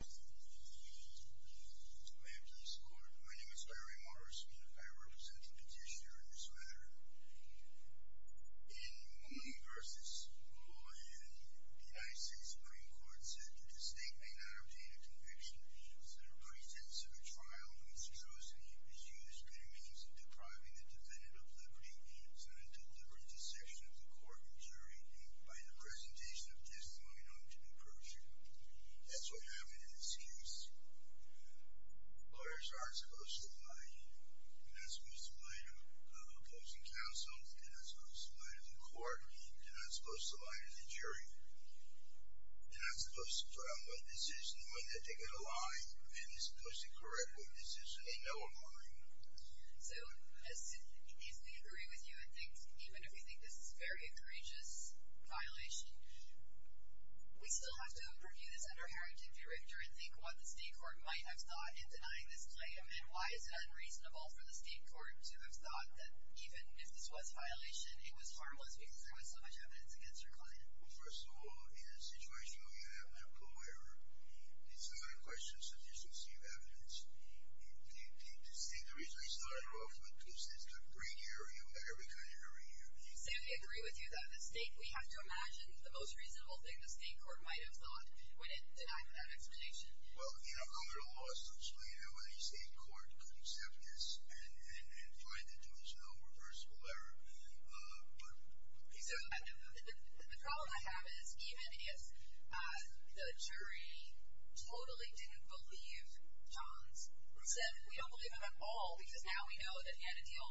My name is Larry Morris and I represent the petitioner in this matter. In Mone v. Roy, the United States Supreme Court said that the state may not obtain a conviction if the pretense of a trial of monstrosity is used by means of depriving the defendant of liberty, subject to deliberate dissection of the court and jury, by the presentation of testimony known to be perjury. That's what happened in this case. Lawyers aren't supposed to lie. They're not supposed to lie to opposing counsels. They're not supposed to lie to the court. They're not supposed to lie to the jury. They're not supposed to trial a decision when they've taken a lie, and they're supposed to correct what decision they know of already. So, as soon as we agree with you and think, even if we think this is a very courageous violation, we still have to purview this under a heretic director and think what the state court might have thought in denying this claim and why it's unreasonable for the state court to have thought that even if this was a violation, it was harmless because there was so much evidence against your client. Well, first of all, in a situation where you have medical error, it's not a question of subjective evidence. To say the reason we started off with two states is a great area. We've got every kind of area. Sam, do you agree with you that the state, we have to imagine the most reasonable thing the state court might have thought when it denied that explanation? Well, you know, under the law, essentially, any state court could accept this and find it to be some kind of reversible error. The problem I have in this scheme is the jury totally didn't believe Johns. They said, we don't believe him at all because now we know that he had a deal.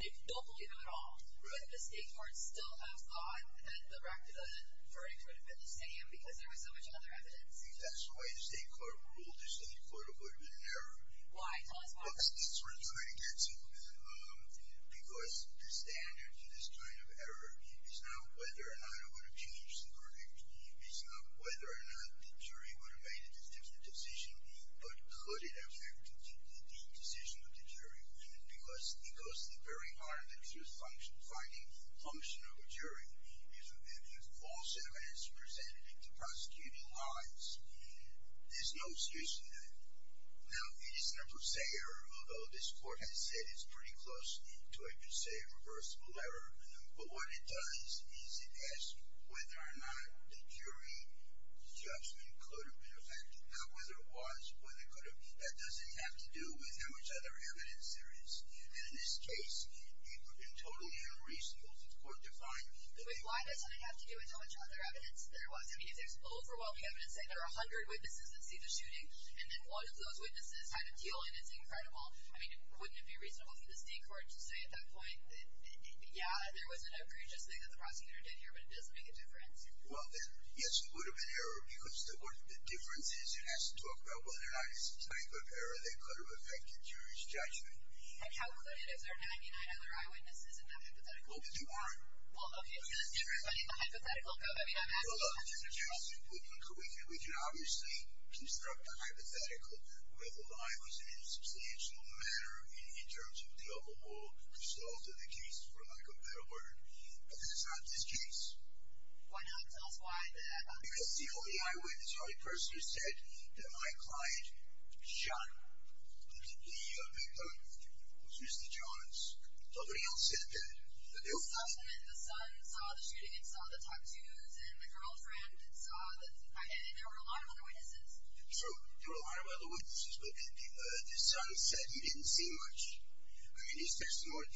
They don't believe him at all, but the state courts still have thought that the verdict would have been the same because there was so much other evidence. I think that's why the state court ruled the state court would have been an error. Why? Tell us why. Because the standard for this kind of error is not whether or not it would have changed the verdict. It's not whether or not the jury would have made a decision, but could it have affected the decision of the jury? Because it goes to the very heart of the truth finding function of a jury. If false evidence is presented in prosecuting lines, there's no excuse for that. Now, it isn't a per se error, although this court has said it's pretty close to a per se reversible error. But what it does is it asks whether or not the jury judgment could have been affected, not whether it was, but whether it could have. That doesn't have to do with how much other evidence there is. And in this case, it's totally unreasonable. The court defined that they... But wait, why doesn't it have to do with how much other evidence there was? I mean, it's overwhelming evidence that there are 100 witnesses that see the shooting, and then one of those witnesses had a deal, and it's incredible. I mean, wouldn't it be reasonable for the state court to say at that point, yeah, there was an egregious thing that the prosecutor did here, but it doesn't make a difference? Well, yes, it would have been error because the difference is it has to talk about whether or not it's the type of error that could have affected jury's judgment. And how good it is or not? I mean, I know that our eyewitness isn't a hypothetical. No, but you are. Well, okay, let's get rid of the hypothetical and go back. I mean, I'm asking... Well, look, we can obviously construct a hypothetical where the lie was in a substantial manner, in terms of tell-all resolved in the case, for lack of a better word. But this is not this case. Why not? Tell us why. Because the only eyewitness, the only person who said that my client shot the victim was Mr. Jones. Nobody else said that. The son saw the shooting and saw the tattoos and the girlfriend and there were a lot of other witnesses. True, there were a lot of other witnesses, but the son said he didn't see much. I mean, his testimony,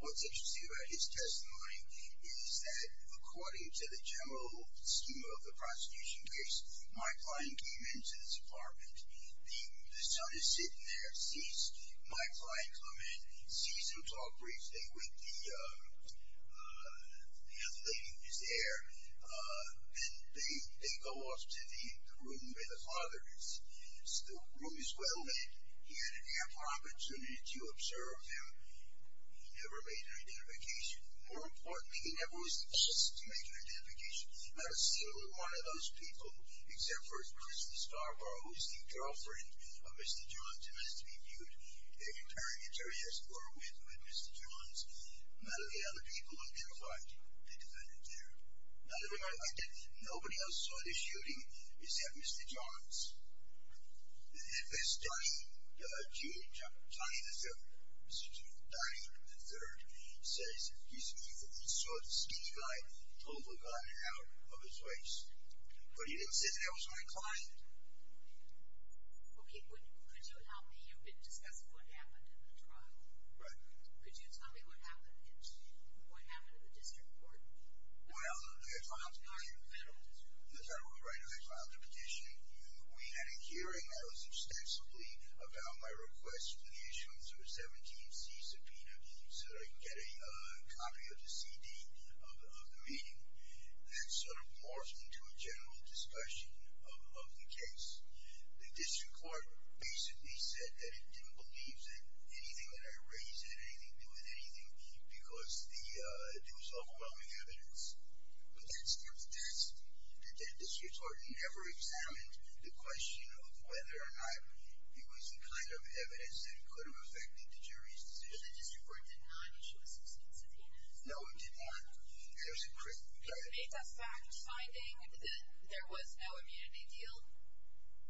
what's interesting about his testimony is that according to the general scheme of the prosecution case, my client came into this apartment, the son is sitting there, sees my client come in, sees him talk briefly with the young lady, his heir, and they go off to the room where the father is. The room is well lit. He had an ample opportunity to observe him. He never made an identification. More importantly, he never was the first to make an identification. Not a single one of those people, except for Chris Starborough, who's the girlfriend of Mr. Jones, must be viewed in a paramilitary escort with Mr. Jones. None of the other people identified the defendant there. None of them identified him. Nobody else saw the shooting except Mr. Jones. And Ms. Dianne, Dianne III, says that he saw the speech guy pull the gun out of his waist, but he didn't say that that was my client. Okay, could you allow me a bit to discuss what happened in the trial? Right. Could you tell me what happened in the district court? Well, I filed a petition. We had a hearing. I was ostensibly about my request for the issuance of a 17C subpoena to get a copy of the CD of the meeting. That sort of morphed into a general discussion of the case. The district court basically said that it didn't believe that anything that I raised had anything to do with anything because it was overwhelming evidence. But that's not the test. The district court never examined the question of whether or not it was the kind of evidence that could have affected the jury's decision. But the district court did not issue a 16C subpoena? No, it did not. There's a trick. It made the fact finding that there was no immunity deal?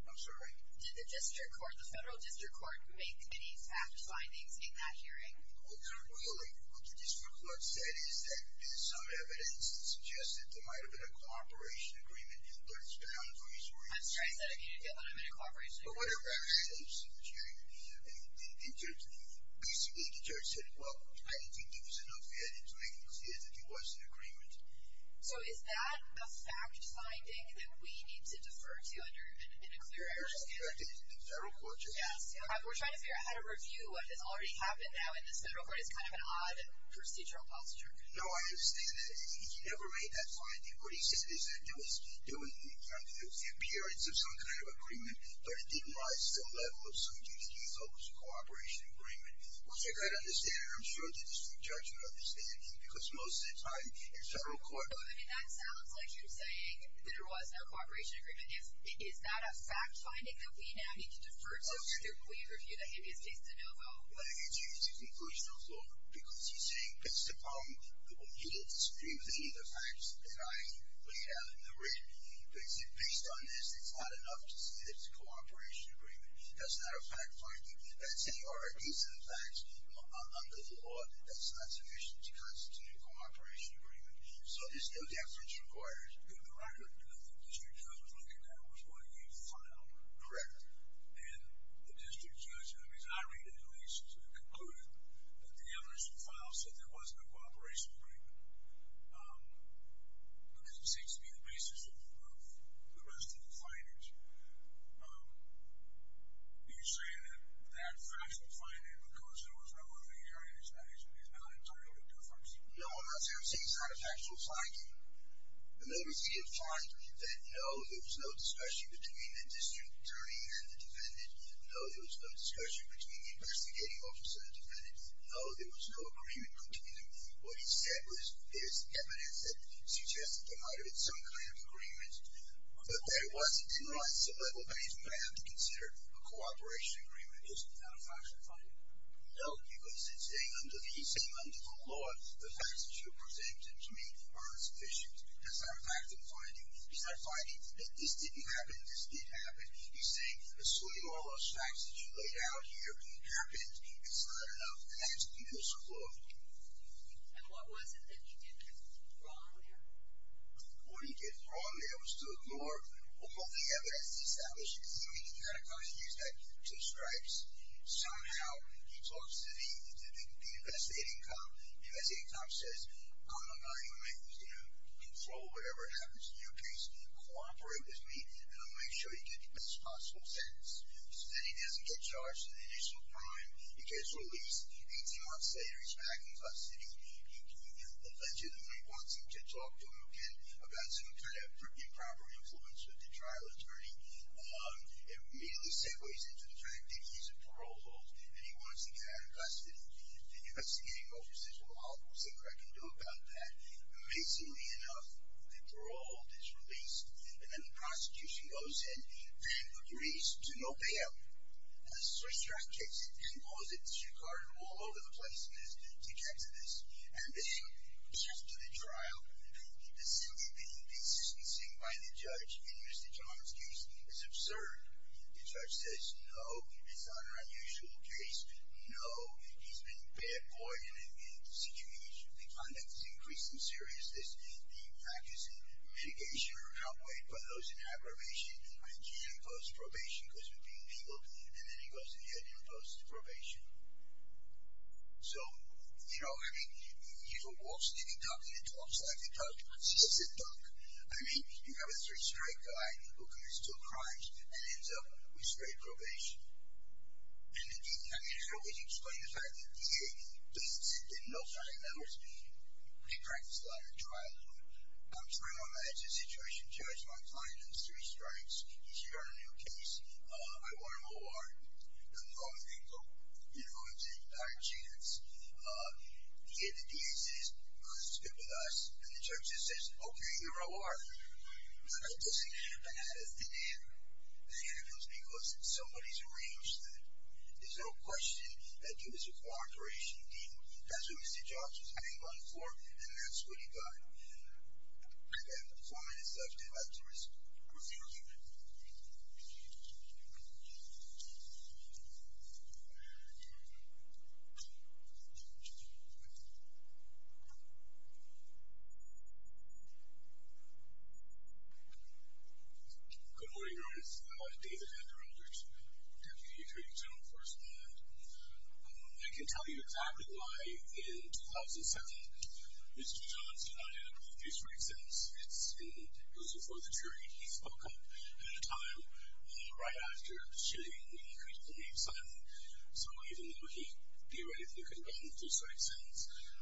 I'm sorry? Did the district court, the federal district court, make any fact findings in that hearing? Well, really, what the district court said is that there's some evidence that suggests that there might have been a cooperation agreement that was found for his reasoning. That's right. He said he didn't get that on a cooperation agreement. But what about the states of the jury? Basically, the judge said, well, I didn't think there was enough evidence to make him see that there was an agreement. So is that the fact finding that we need to defer to under an inquirer? That's what the federal court just asked. We're trying to figure out how to review what has already happened now in this federal court. It's kind of an odd procedural posture. No, I understand that. He never made that finding. What he said is that there was periods of some kind of agreement, but it didn't rise to the level of something he thought was a cooperation agreement. Well, I got to understand that. I'm sure the district judge would understand that because most of the time in federal court ---- But, I mean, that sounds like you're saying that there was no cooperation agreement. Is that a fact finding that we now need to defer to a district lawyer to review that? Maybe it's just a no vote. I think it's a conclusion of law because he's saying it's the problem. He didn't disagree with any of the facts that I laid out in the written. But based on this, it's not enough to say that it's a cooperation agreement. That's not a fact finding. That's any or a case of the facts under the law that's not sufficient to constitute a cooperation agreement. So there's no deference required. In the record, the judge was looking at which one you filed. Correct. And the district judge, as I read it, at least, concluded that the evidence you filed said there was no cooperation agreement because it seems to be the basis of the rest of the findings. Are you saying that that factual finding, because there was no other hearing in this matter, is not entirely the difference? No, I'm not saying it's not a factual finding. There was no discussion between the district attorney and the defendant. No, there was no discussion between the investigating officer and the defendant. No, there was no agreement between them. What he said was there's evidence that suggests that there might have been some kind of agreement. But there wasn't. It's not sub-level evidence that I have to consider a cooperation agreement. Is it not a factual finding? No, because he's saying under the law, the facts that you present to me are sufficient. It's not a fact of finding. It's not finding that this didn't happen, that this did happen. He's saying assuming all those facts that you laid out here happened, it's not enough evidence to prove. And what was it that you didn't throw in there? What he didn't throw in there was to ignore what both the evidence established. You can see when he kind of continues that two stripes. Somehow, he talks to the investigating cop. The investigating cop says, I'm not going to let you control whatever happens to your case. Cooperate with me, and I'll make sure you get the best possible sentence. So then he doesn't get charged in the initial crime. The case is released 18 months later. He's back in custody. The judge wants him to talk to him again about some kind of improper influence with the trial attorney. It immediately segues into the fact that he's a parole hold and he wants him back in custody. The investigating officer says, well, I'll see what I can do about that. Amazingly enough, the parole hold is released, and then the prosecution goes and agrees to no bail. And the search truck takes it and pulls it. It's recorded all over the place. It's dejected. And then after the trial, the significant insistencing by the judge in Mr. John's case is absurd. The judge says, no, it's not an unusual case. No, he's been a bad boy. The conduct is increased in seriousness. The impact is in mitigation or outweighed by those in aggravation. And he imposed probation because of being a legal dean, and then he goes ahead and imposes probation. So, you know, I mean, he walks in and talks like a dog. He's a dog. I mean, you have a very straight guy who commits two crimes and ends up with straight probation. And, again, I mean, it's really strange, the fact that the dean basically didn't know Friday numbers. He practiced a lot of trial law. I'm trying to imagine a situation, judge, where I'm filing those three strikes. If you're on a new case, I want an O.R. I'm going to go. You know, I'm taking a higher chance. The dean of the DA says, who's good with us? And the judge just says, okay, you're an O.R. That doesn't happen. And, again, it was because somebody's arranged that. There's no question that he was a cooperation dean. That's what we see judges hang on for, and that's what he got. And, again, the point is left to the jury's review. Good morning, Your Honor. This is David Henderandert, deputy jury general correspondent. I can tell you exactly why, in 2007, Mr. Johns did not end up with a few straight sentences. It was before the jury. He spoke up at a time right after the shooting when he created the name Simon. So even though he did what he thought he could have done with those straight sentences,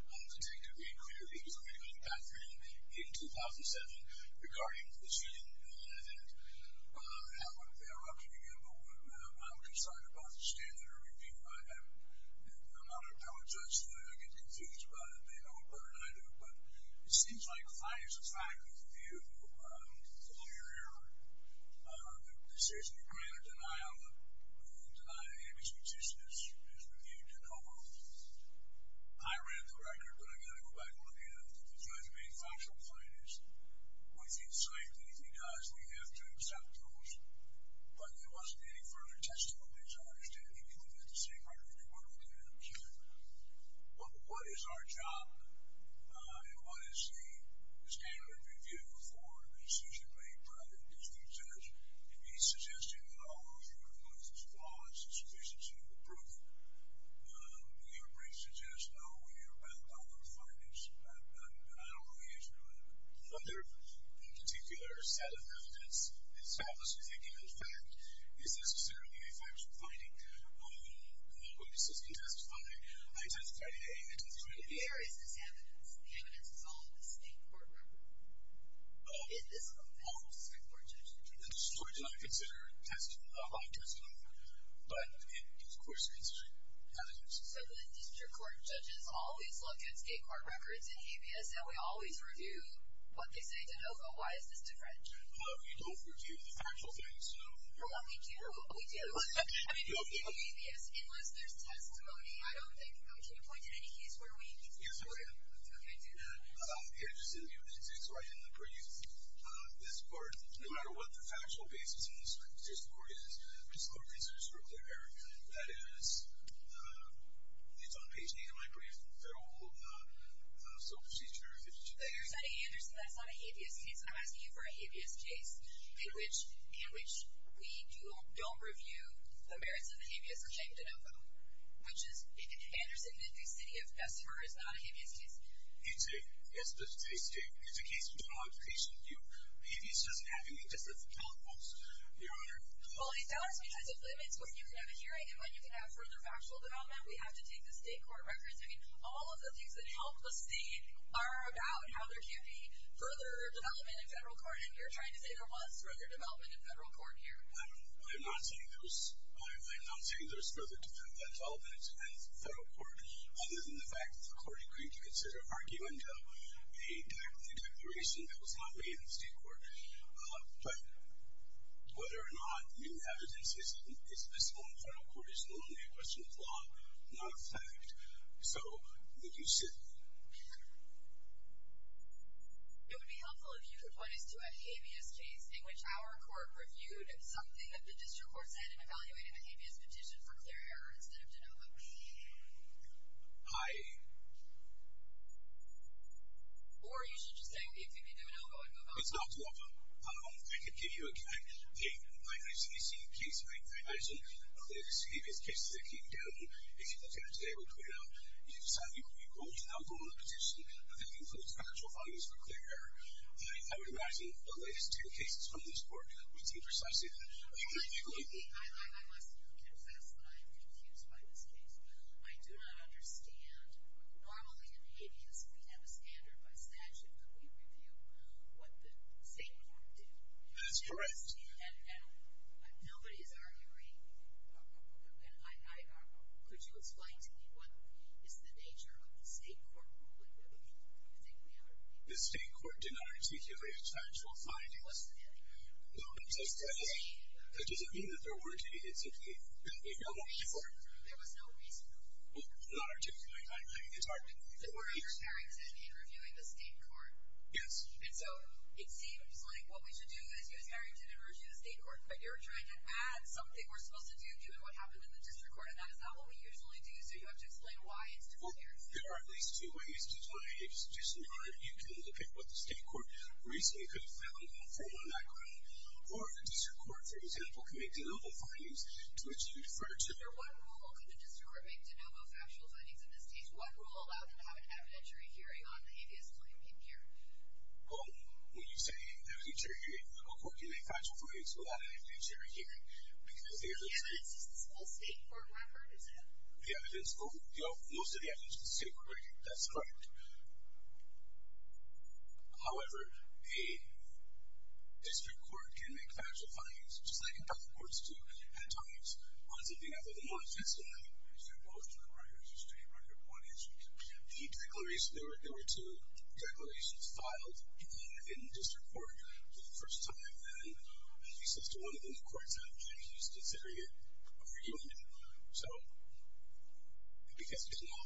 the detective made clear that he was going to go to the bathroom in 2007 regarding the shooting. And that's what they're up to again. But I'm concerned about the standard of review I have. And I'm not a power judge, so I don't get confused about it. They know it better than I do. But it seems like the fine is the fine, because the view of the lawyer or the decision to grant a denial, the ruling to deny Amy's petition is reviewed and over with. I read the record, but I've got to go back and look at it. The judge made factual findings. Within sight, anything dies. We have to accept those. But there wasn't any further testimony. As I understand it, you can look at the same record if you want to look at it again. Well, what is our job? And what is the standard of review for a decision made by a judge? If he suggests to you that all of your evidence is flawless and sufficient to prove it, your brief suggests, oh, you're back on the refiners. I don't really get you. Well, their particular set of evidence, it's not a significant fact. It's necessarily a factual finding. Well, the police can testify. I testified today. There is this evidence. The evidence is all in the state court record. It is a model state court judgment. The story is not considered a lot of testimony. But, of course, it's the evidence. So the district court judges always look at state court records in ABS, and we always review what they say to know, but why is this different? We don't review the factual things. Well, we do. We do. I mean, in ABS, unless there's testimony, I don't think we can point to any case where we do. Okay, do that. It's right in the brief. This part, no matter what the factual basis in this court is, this court considers for a clear error. That is, it's on page 8 of my brief. They're all self-procedure. It's today. Mr. Anderson, that's not a habeas case. I'm asking you for a habeas case in which we don't review the merits of a habeas or changed it over, which is, if Anderson admits the city of Bessemer is not a habeas case. It's a state state. It's a case with a lot of patient view. Habeas doesn't have any specific health faults, Your Honor. Well, he's asking you types of limits when you can have a hearing and when you can have further factual development. We have to take the state court records. I mean, all of the things that help the state are about how there can't be further development in federal court, and you're trying to say there was further development in federal court here. I'm not saying there was further development in federal court, other than the fact that the court agreed to consider arguing to a declaration that was not made in the state court. But whether or not new evidence is visible in federal court is only a question of law, not fact. So, would you sit there? It would be helpful if you could point us to a habeas case in which our court reviewed something that the district court said and evaluated a habeas petition for clear error instead of de novo. I... Or you should just say, if you can do a de novo and move on. It's not a de novo. I could give you a case... I can give you a case, I imagine, of the habeas cases that came down. If you look at it today, it would point out you decided you were going to the local petition, but that includes factual findings for clear error. I would imagine the latest two cases from this court would see precisely that. I must confess that I am confused by this case. I do not understand. Normally, in habeas, we have a standard by statute that we review what the state court did. That is correct. And nobody is arguing... Could you explain to me what is the nature of the state court ruling? I think we have... The state court did not articulate factual findings. It wasn't there. That doesn't mean that there weren't... There was no reason for it. There was no reason for it. Well, it's not articulated. It's hard to... We're under Harrington in reviewing the state court. Yes. And so it seems like what we should do is use Harrington in reviewing the state court, but you're trying to add something we're supposed to do to what happened in the district court, and that is not what we usually do, so you have to explain why it's different here. Well, there are at least two ways to do it. It's just not... You can look at what the state court recently could have found on formal background, or the district court, for example, can make de novo findings to which you defer to... Under what rule could the district court make de novo factual findings in this case? Under what rule allow them to have an evidentiary hearing on the habeas codium being carried? Well, when you say evidentiary hearing, the local court can make factual findings without an evidentiary hearing, because the evidence... The evidence is the state court record, is it? Yeah, the evidence... Most of the evidence is the state court record. That's correct. However, a district court can make factual findings, just like in public courts do, at times, once a day after the month. Essentially, they're both court records. The state record, one is. The declarations... There were two declarations filed in the district court for the first time, and he says to one of them, the court's out of change, and he's considering it, and we're dealing with it. So... I think that's a good law.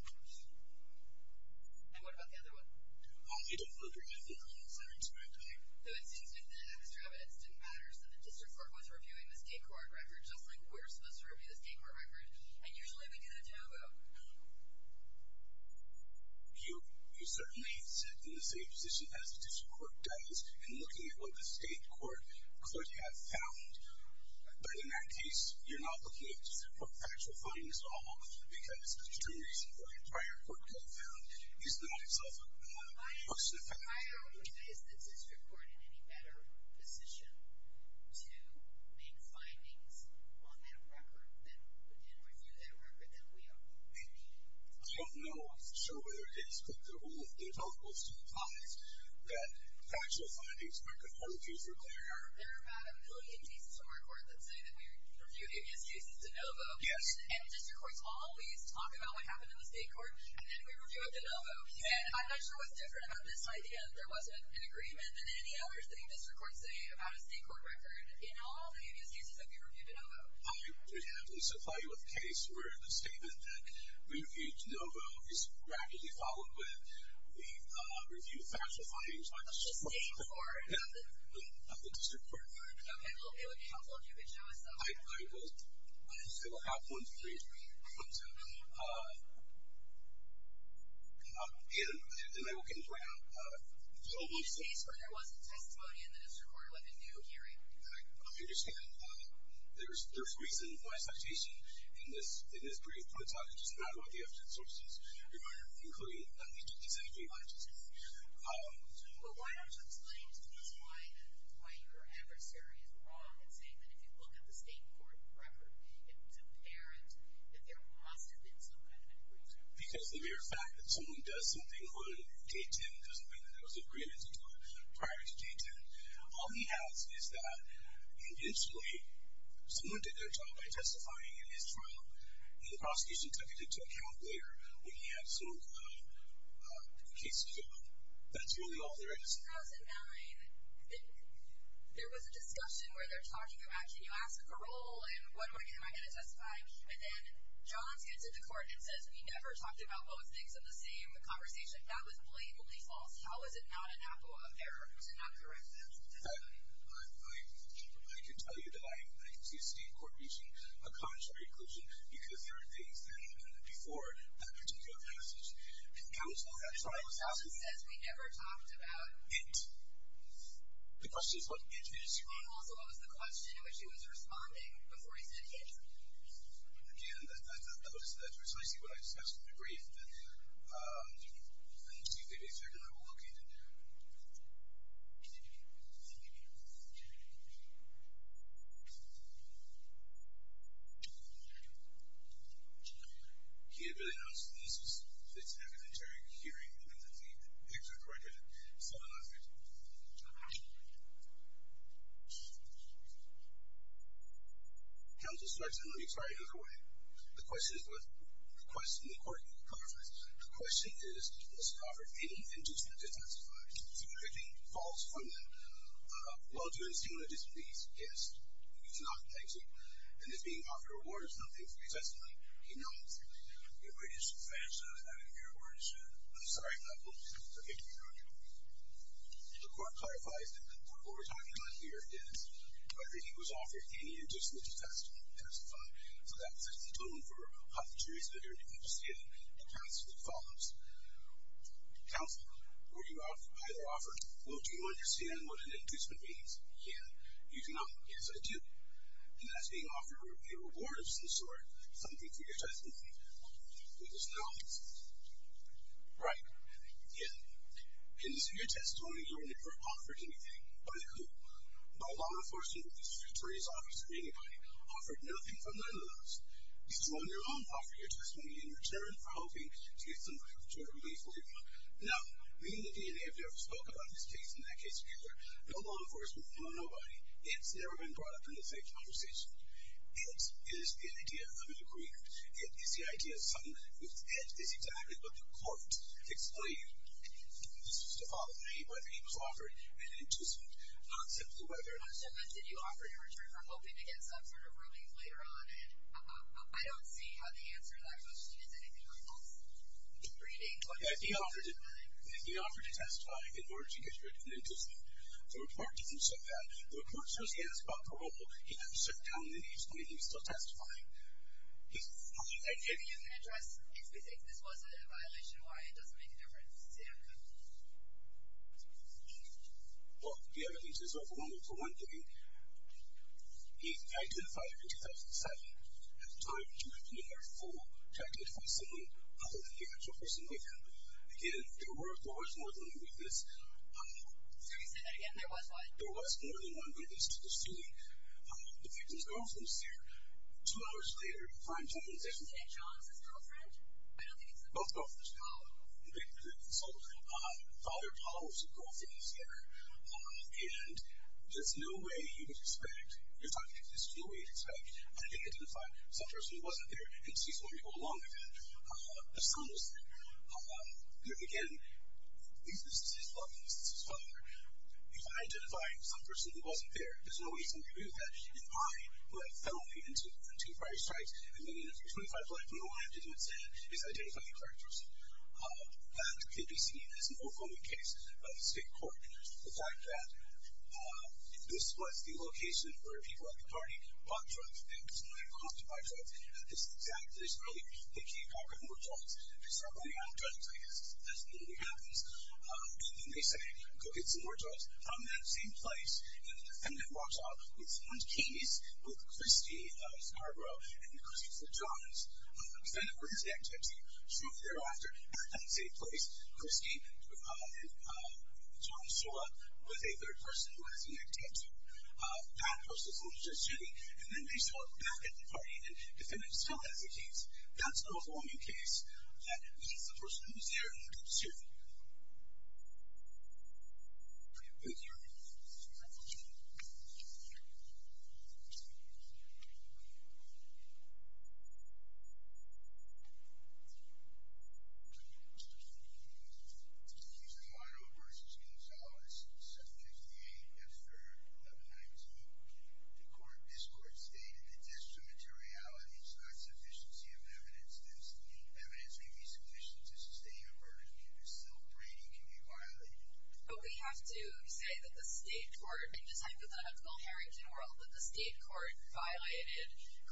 And what about the other one? You don't look at the evidence every single day. Though it seems that the extra evidence didn't matter, so the district court was reviewing this state court record just like we're supposed to review this state court record, and usually we get a taboo. You certainly sit in the same position as the district court does in looking at what the state court could have found, but in that case, you're not looking at district court factual findings at all, because the reason why a prior court could have found is not itself a personal fact. Is the district court in any better position to make findings on that record than review that record that we made? I don't know. I'm not sure whether it is, but there's all those ties that factual findings could hold you for longer. There are about a million cases in our court that say that we review abuse cases de novo, and district courts always talk about what happened in the state court, and then we review it de novo, and I'm not sure what's different about this idea that there wasn't an agreement than any other thing district courts say about a state court record in all the abuse cases that we review de novo. I would happily supply you with a case where the statement that we review de novo is rapidly followed with the review of factual findings by the district court. The state court? Yeah, the district court. Okay, well, it would be helpful if you could show us that. I will. I will have one for you. I'm sorry. No, no, no. And I will get into it now. In this case where there wasn't testimony and the district court let me do a hearing. I understand. There's reason why citation in this brief puts out just not about the evidence sources. You're going to include exactly what it says here. But why don't you explain to me why your adversary is wrong in saying that if you look at the state court record, it's apparent that there must have been some kind of an agreement. Because the mere fact that someone does something on day 10 doesn't mean that there was an agreement prior to day 10. All he has is that eventually someone did their job by testifying in his trial and the prosecution took it into account later when he had some cases go up. That's really all there is. In 2009, there was a discussion where they're talking about, can you ask for parole and am I going to testify? And then Johns gets into court and says we never talked about both things in the same conversation. That was blatantly false. How is it not an apple of error? How is it not corrective? I can tell you that I can see a state court reaching a contrary conclusion because there are things there that happened before that particular passage. And now that trial is happening. He says we never talked about it. The question is what it is. And also what was the question in which he was responding before he said yes? Again, that was precisely what I discussed in the brief. And I think they did check and they were all okay. He had barely announced the news because it's an evidentiary hearing and then the excerpt right here, so I'm not going to talk about it. Counsel, sir, I just want to make sure I hear correctly. The question is what? The question in the court. The question is, has Crawford any intention to testify? The validity falls from that. Well, do you insist on a displease? Yes. You do not, thank you. And is being offered a reward or something? He says no. He knows. It would just vanish out of your words. I'm sorry, I'm not going to. Okay. The court clarifies that what we're talking about here is whether he was offered any inducement to testify. So that's the tone for a pathology that you're going to see in the counsel that follows. Counsel, were you either offered? Well, do you understand what an inducement means? Yes. You do not. Yes, I do. And that's being offered a reward of some sort, something for your testimony. He says no. Right. Yes. In your testimony, you were never offered anything. By who? By law enforcement or the district attorney's office or anybody. Offered nothing from their list. You, on your own, offered your testimony in return for hoping to get some relief for your mom. No. Me and the DNA have never spoke about this case in that case together. No law enforcement, no nobody. It's never been brought up in the same conversation. It is an idea of an agreement. It is the idea of something that we've had. It's exactly what the court explained to all of me, whether he was offered an inducement. Not simply whether or not. But did you offer your return for hoping to get some sort of relief later on? And I don't see how the answer to that question is anything like this. He offered to testify in order to get rid of an inducement. The report didn't say that. The report says he asked about parole. He didn't sit down and explain he was still testifying. Did he give you an address? If he thinks this was a violation, why? It doesn't make a difference. Say it again. Well, the evidence is overwhelming for one thing. He identified her in 2007. At the time, she had been in her full childhood with someone other than the actual person with him. Again, there was more than one witness. Can you say that again? There was what? There was more than one witness to this hearing. The victim's girlfriend is here. Two hours later, you find two witnesses. Is it John's girlfriend? I don't think it's his girlfriend. Both girlfriends follow. They consult. The other follows. The girlfriend is here. And there's no way you would expect. There's no way to expect. And they identify some person who wasn't there. And she's going to go along with that. That's almost it. Again, this is his wife and this is his father. If I identify some person who wasn't there, there's no reason to prove that I, who had fell into two prior strikes, have been in a 325 life, and all I have to do is identify the correct person. That could be seen as an overwhelming case by the state court. The fact that this was the location where people at the party bought drugs and were constantly buying drugs is exactly this. Really, they came back with more drugs. They start buying more drugs, I guess. That's what really happens. And they say, go get some more drugs. From that same place, the defendant walks off with someone's keys, with Christie Scarborough and Christopher Johns. The defendant wears a necktie. Shrunk thereafter, back at the same place, Christie and John show up with a third person who has a necktie, a bad person who was just shooting. And then they show up back at the party, and the defendant still has the keys. That's an overwhelming case that leaves the person who was there in the deep suit. Thank you. Thank you. Thank you. Thank you. Thank you. Thank you. Thank you. Thank you. Thank you. Thank you. Thank you. Thank you. The accused is Monto versus Gonzalez. The sentence is D-8, F-3-1-9-2. The court of this court stated that discriminatoriality is not sufficiency of evidence. Evidence may be sufficient to sustain a verdict, but still, brainy can be violated. But we have to say that the state court, in this type of unethical Harrington world, that the state court violated clearly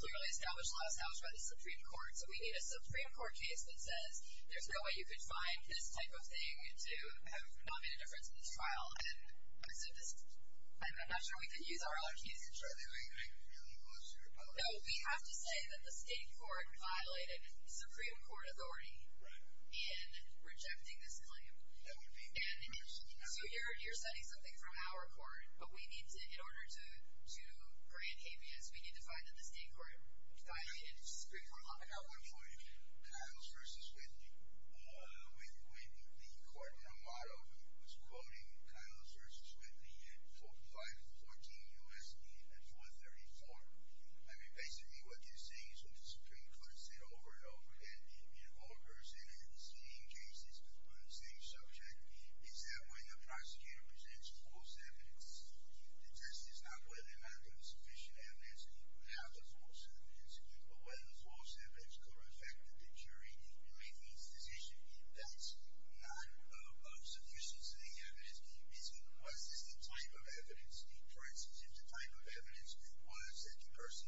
established laws by the Supreme Court. So we need a Supreme Court case that says there's no way you could find this type of thing to have not made a difference in this trial. And I'm not sure we can use our own cases. Are they going to get any closer? No. But we have to say that the state court violated Supreme Court authority in rejecting this claim. That would be my question. So you're citing something from our court. But we need to, in order to grant habeas, we need to find that the state court violated Supreme Court law. I got one for you. Kyles versus Whitney. When the court in Armado was quoting Kyles versus Whitney in 514 U.S.C. and 434, I mean, basically what you're seeing is what the Supreme Court said over and over again in all her sentencing cases on the same subject is that when the prosecutor presents false evidence, the test is not whether or not there's sufficient evidence to have the false evidence, but whether the false evidence could affect the jury in making its decision. That's not of sufficient evidence. What is the type of evidence? For instance, if the type of evidence was that the person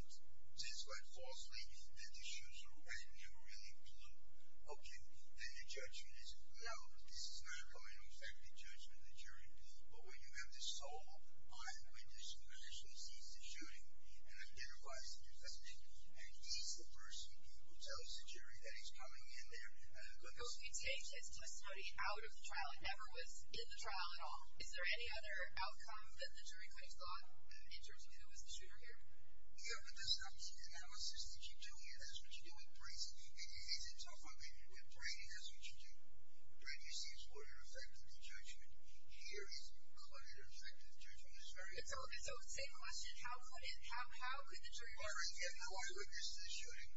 says quite falsely that the shooter has never really looked, okay, then the judgment is no, this is not going to affect the judgment of the jury. But when you have the sole eyewitness who actually sees the shooting and identifies the defendant, and he's the person who tells the jury that he's coming in there as a witness. So if you take this testimony out of the trial and never was in the trial at all, is there any other outcome that the jury could have thought in terms of who was the shooter here? Yeah, but this analysis that you do here, that's what you do with Brady. Is it tough on Brady? With Brady, that's what you do. Brady sees what would affect the judgment. Here, he's caught it or affected the judgment. It's very different. So, same question. How could the jury... By bringing in the eyewitness to the shooting.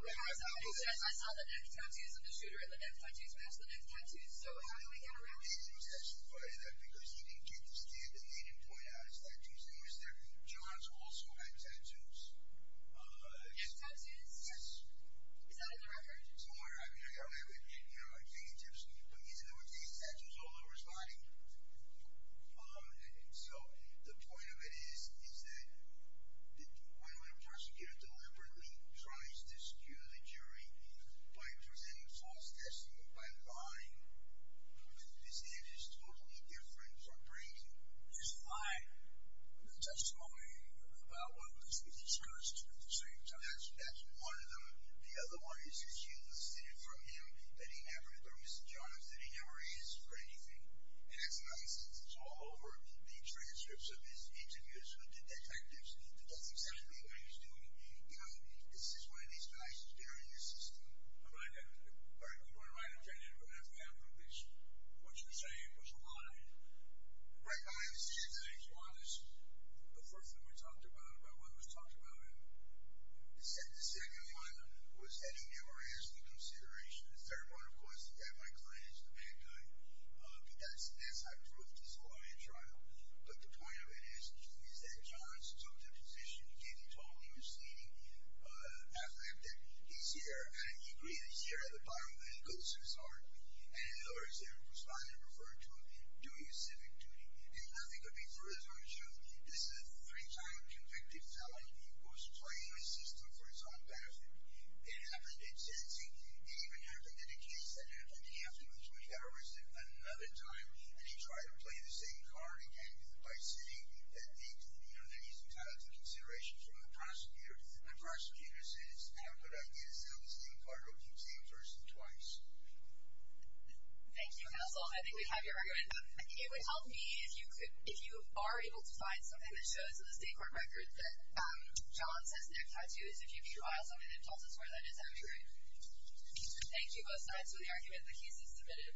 I saw the neck tattoos of the shooter and the neck tattoos match the neck tattoos, so how do we get around that? You can testify to that, because you can get the stand-in and point out his tattoos, and you can say, John's also had tattoos. He has tattoos? Yes. Is that on the record? It's on the record, yeah. You know, like fingertips. But he's never taken tattoos all over his body. So the point of it is is that when a prosecutor deliberately tries to skew the jury by presenting false testimony, by lying, his answer is totally different from Brady. He's lying. The testimony about what was discussed at the same time. That's one of them. The other one is, is you listed it for him that he never, or Mr. Johns, that he never is for anything. And as an eyewitness, it's all over the transcripts of his interviews with the detectives. It doesn't say to me what he's doing. You know, is this one of these guys scaring the system? I'm not an eyewitness. All right. We want to write an opinion, but if we have one, please, what you're saying was a lie. Right behind the scenes, it is a lie. That's the first thing we talked about, about what was talked about. The second one was that he never asked for consideration. The third one, of course, is that my client is the bad guy. That's not true. It's a lie and trial. But the point of it is, is that Johns took the position. He told me he was seen as an athlete. He's here. And he agreed. He's here at the bottom. And he goes to his heart. And in other words, they're responding to him, referring to him, doing a civic duty. And nothing could be further from the truth. This is a three-time convicted felon. He was playing the system for his own benefit. It happened in Tennessee. It even happened in a case that happened in the afternoon of the 25th hour. It was in another time. And he tried to play the same card again by saying that he, you know, that he's entitled to consideration from the prosecutor. The prosecutor says, I'm going to give the same card to the same person twice. Thank you, Hasel. I think we have your argument. It would help me if you could, if you are able to find something that shows in the state court record that Johns has neck tattoos. If you could draw something that tells us where that is, that would be great. Thank you both sides for the argument. The case is submitted.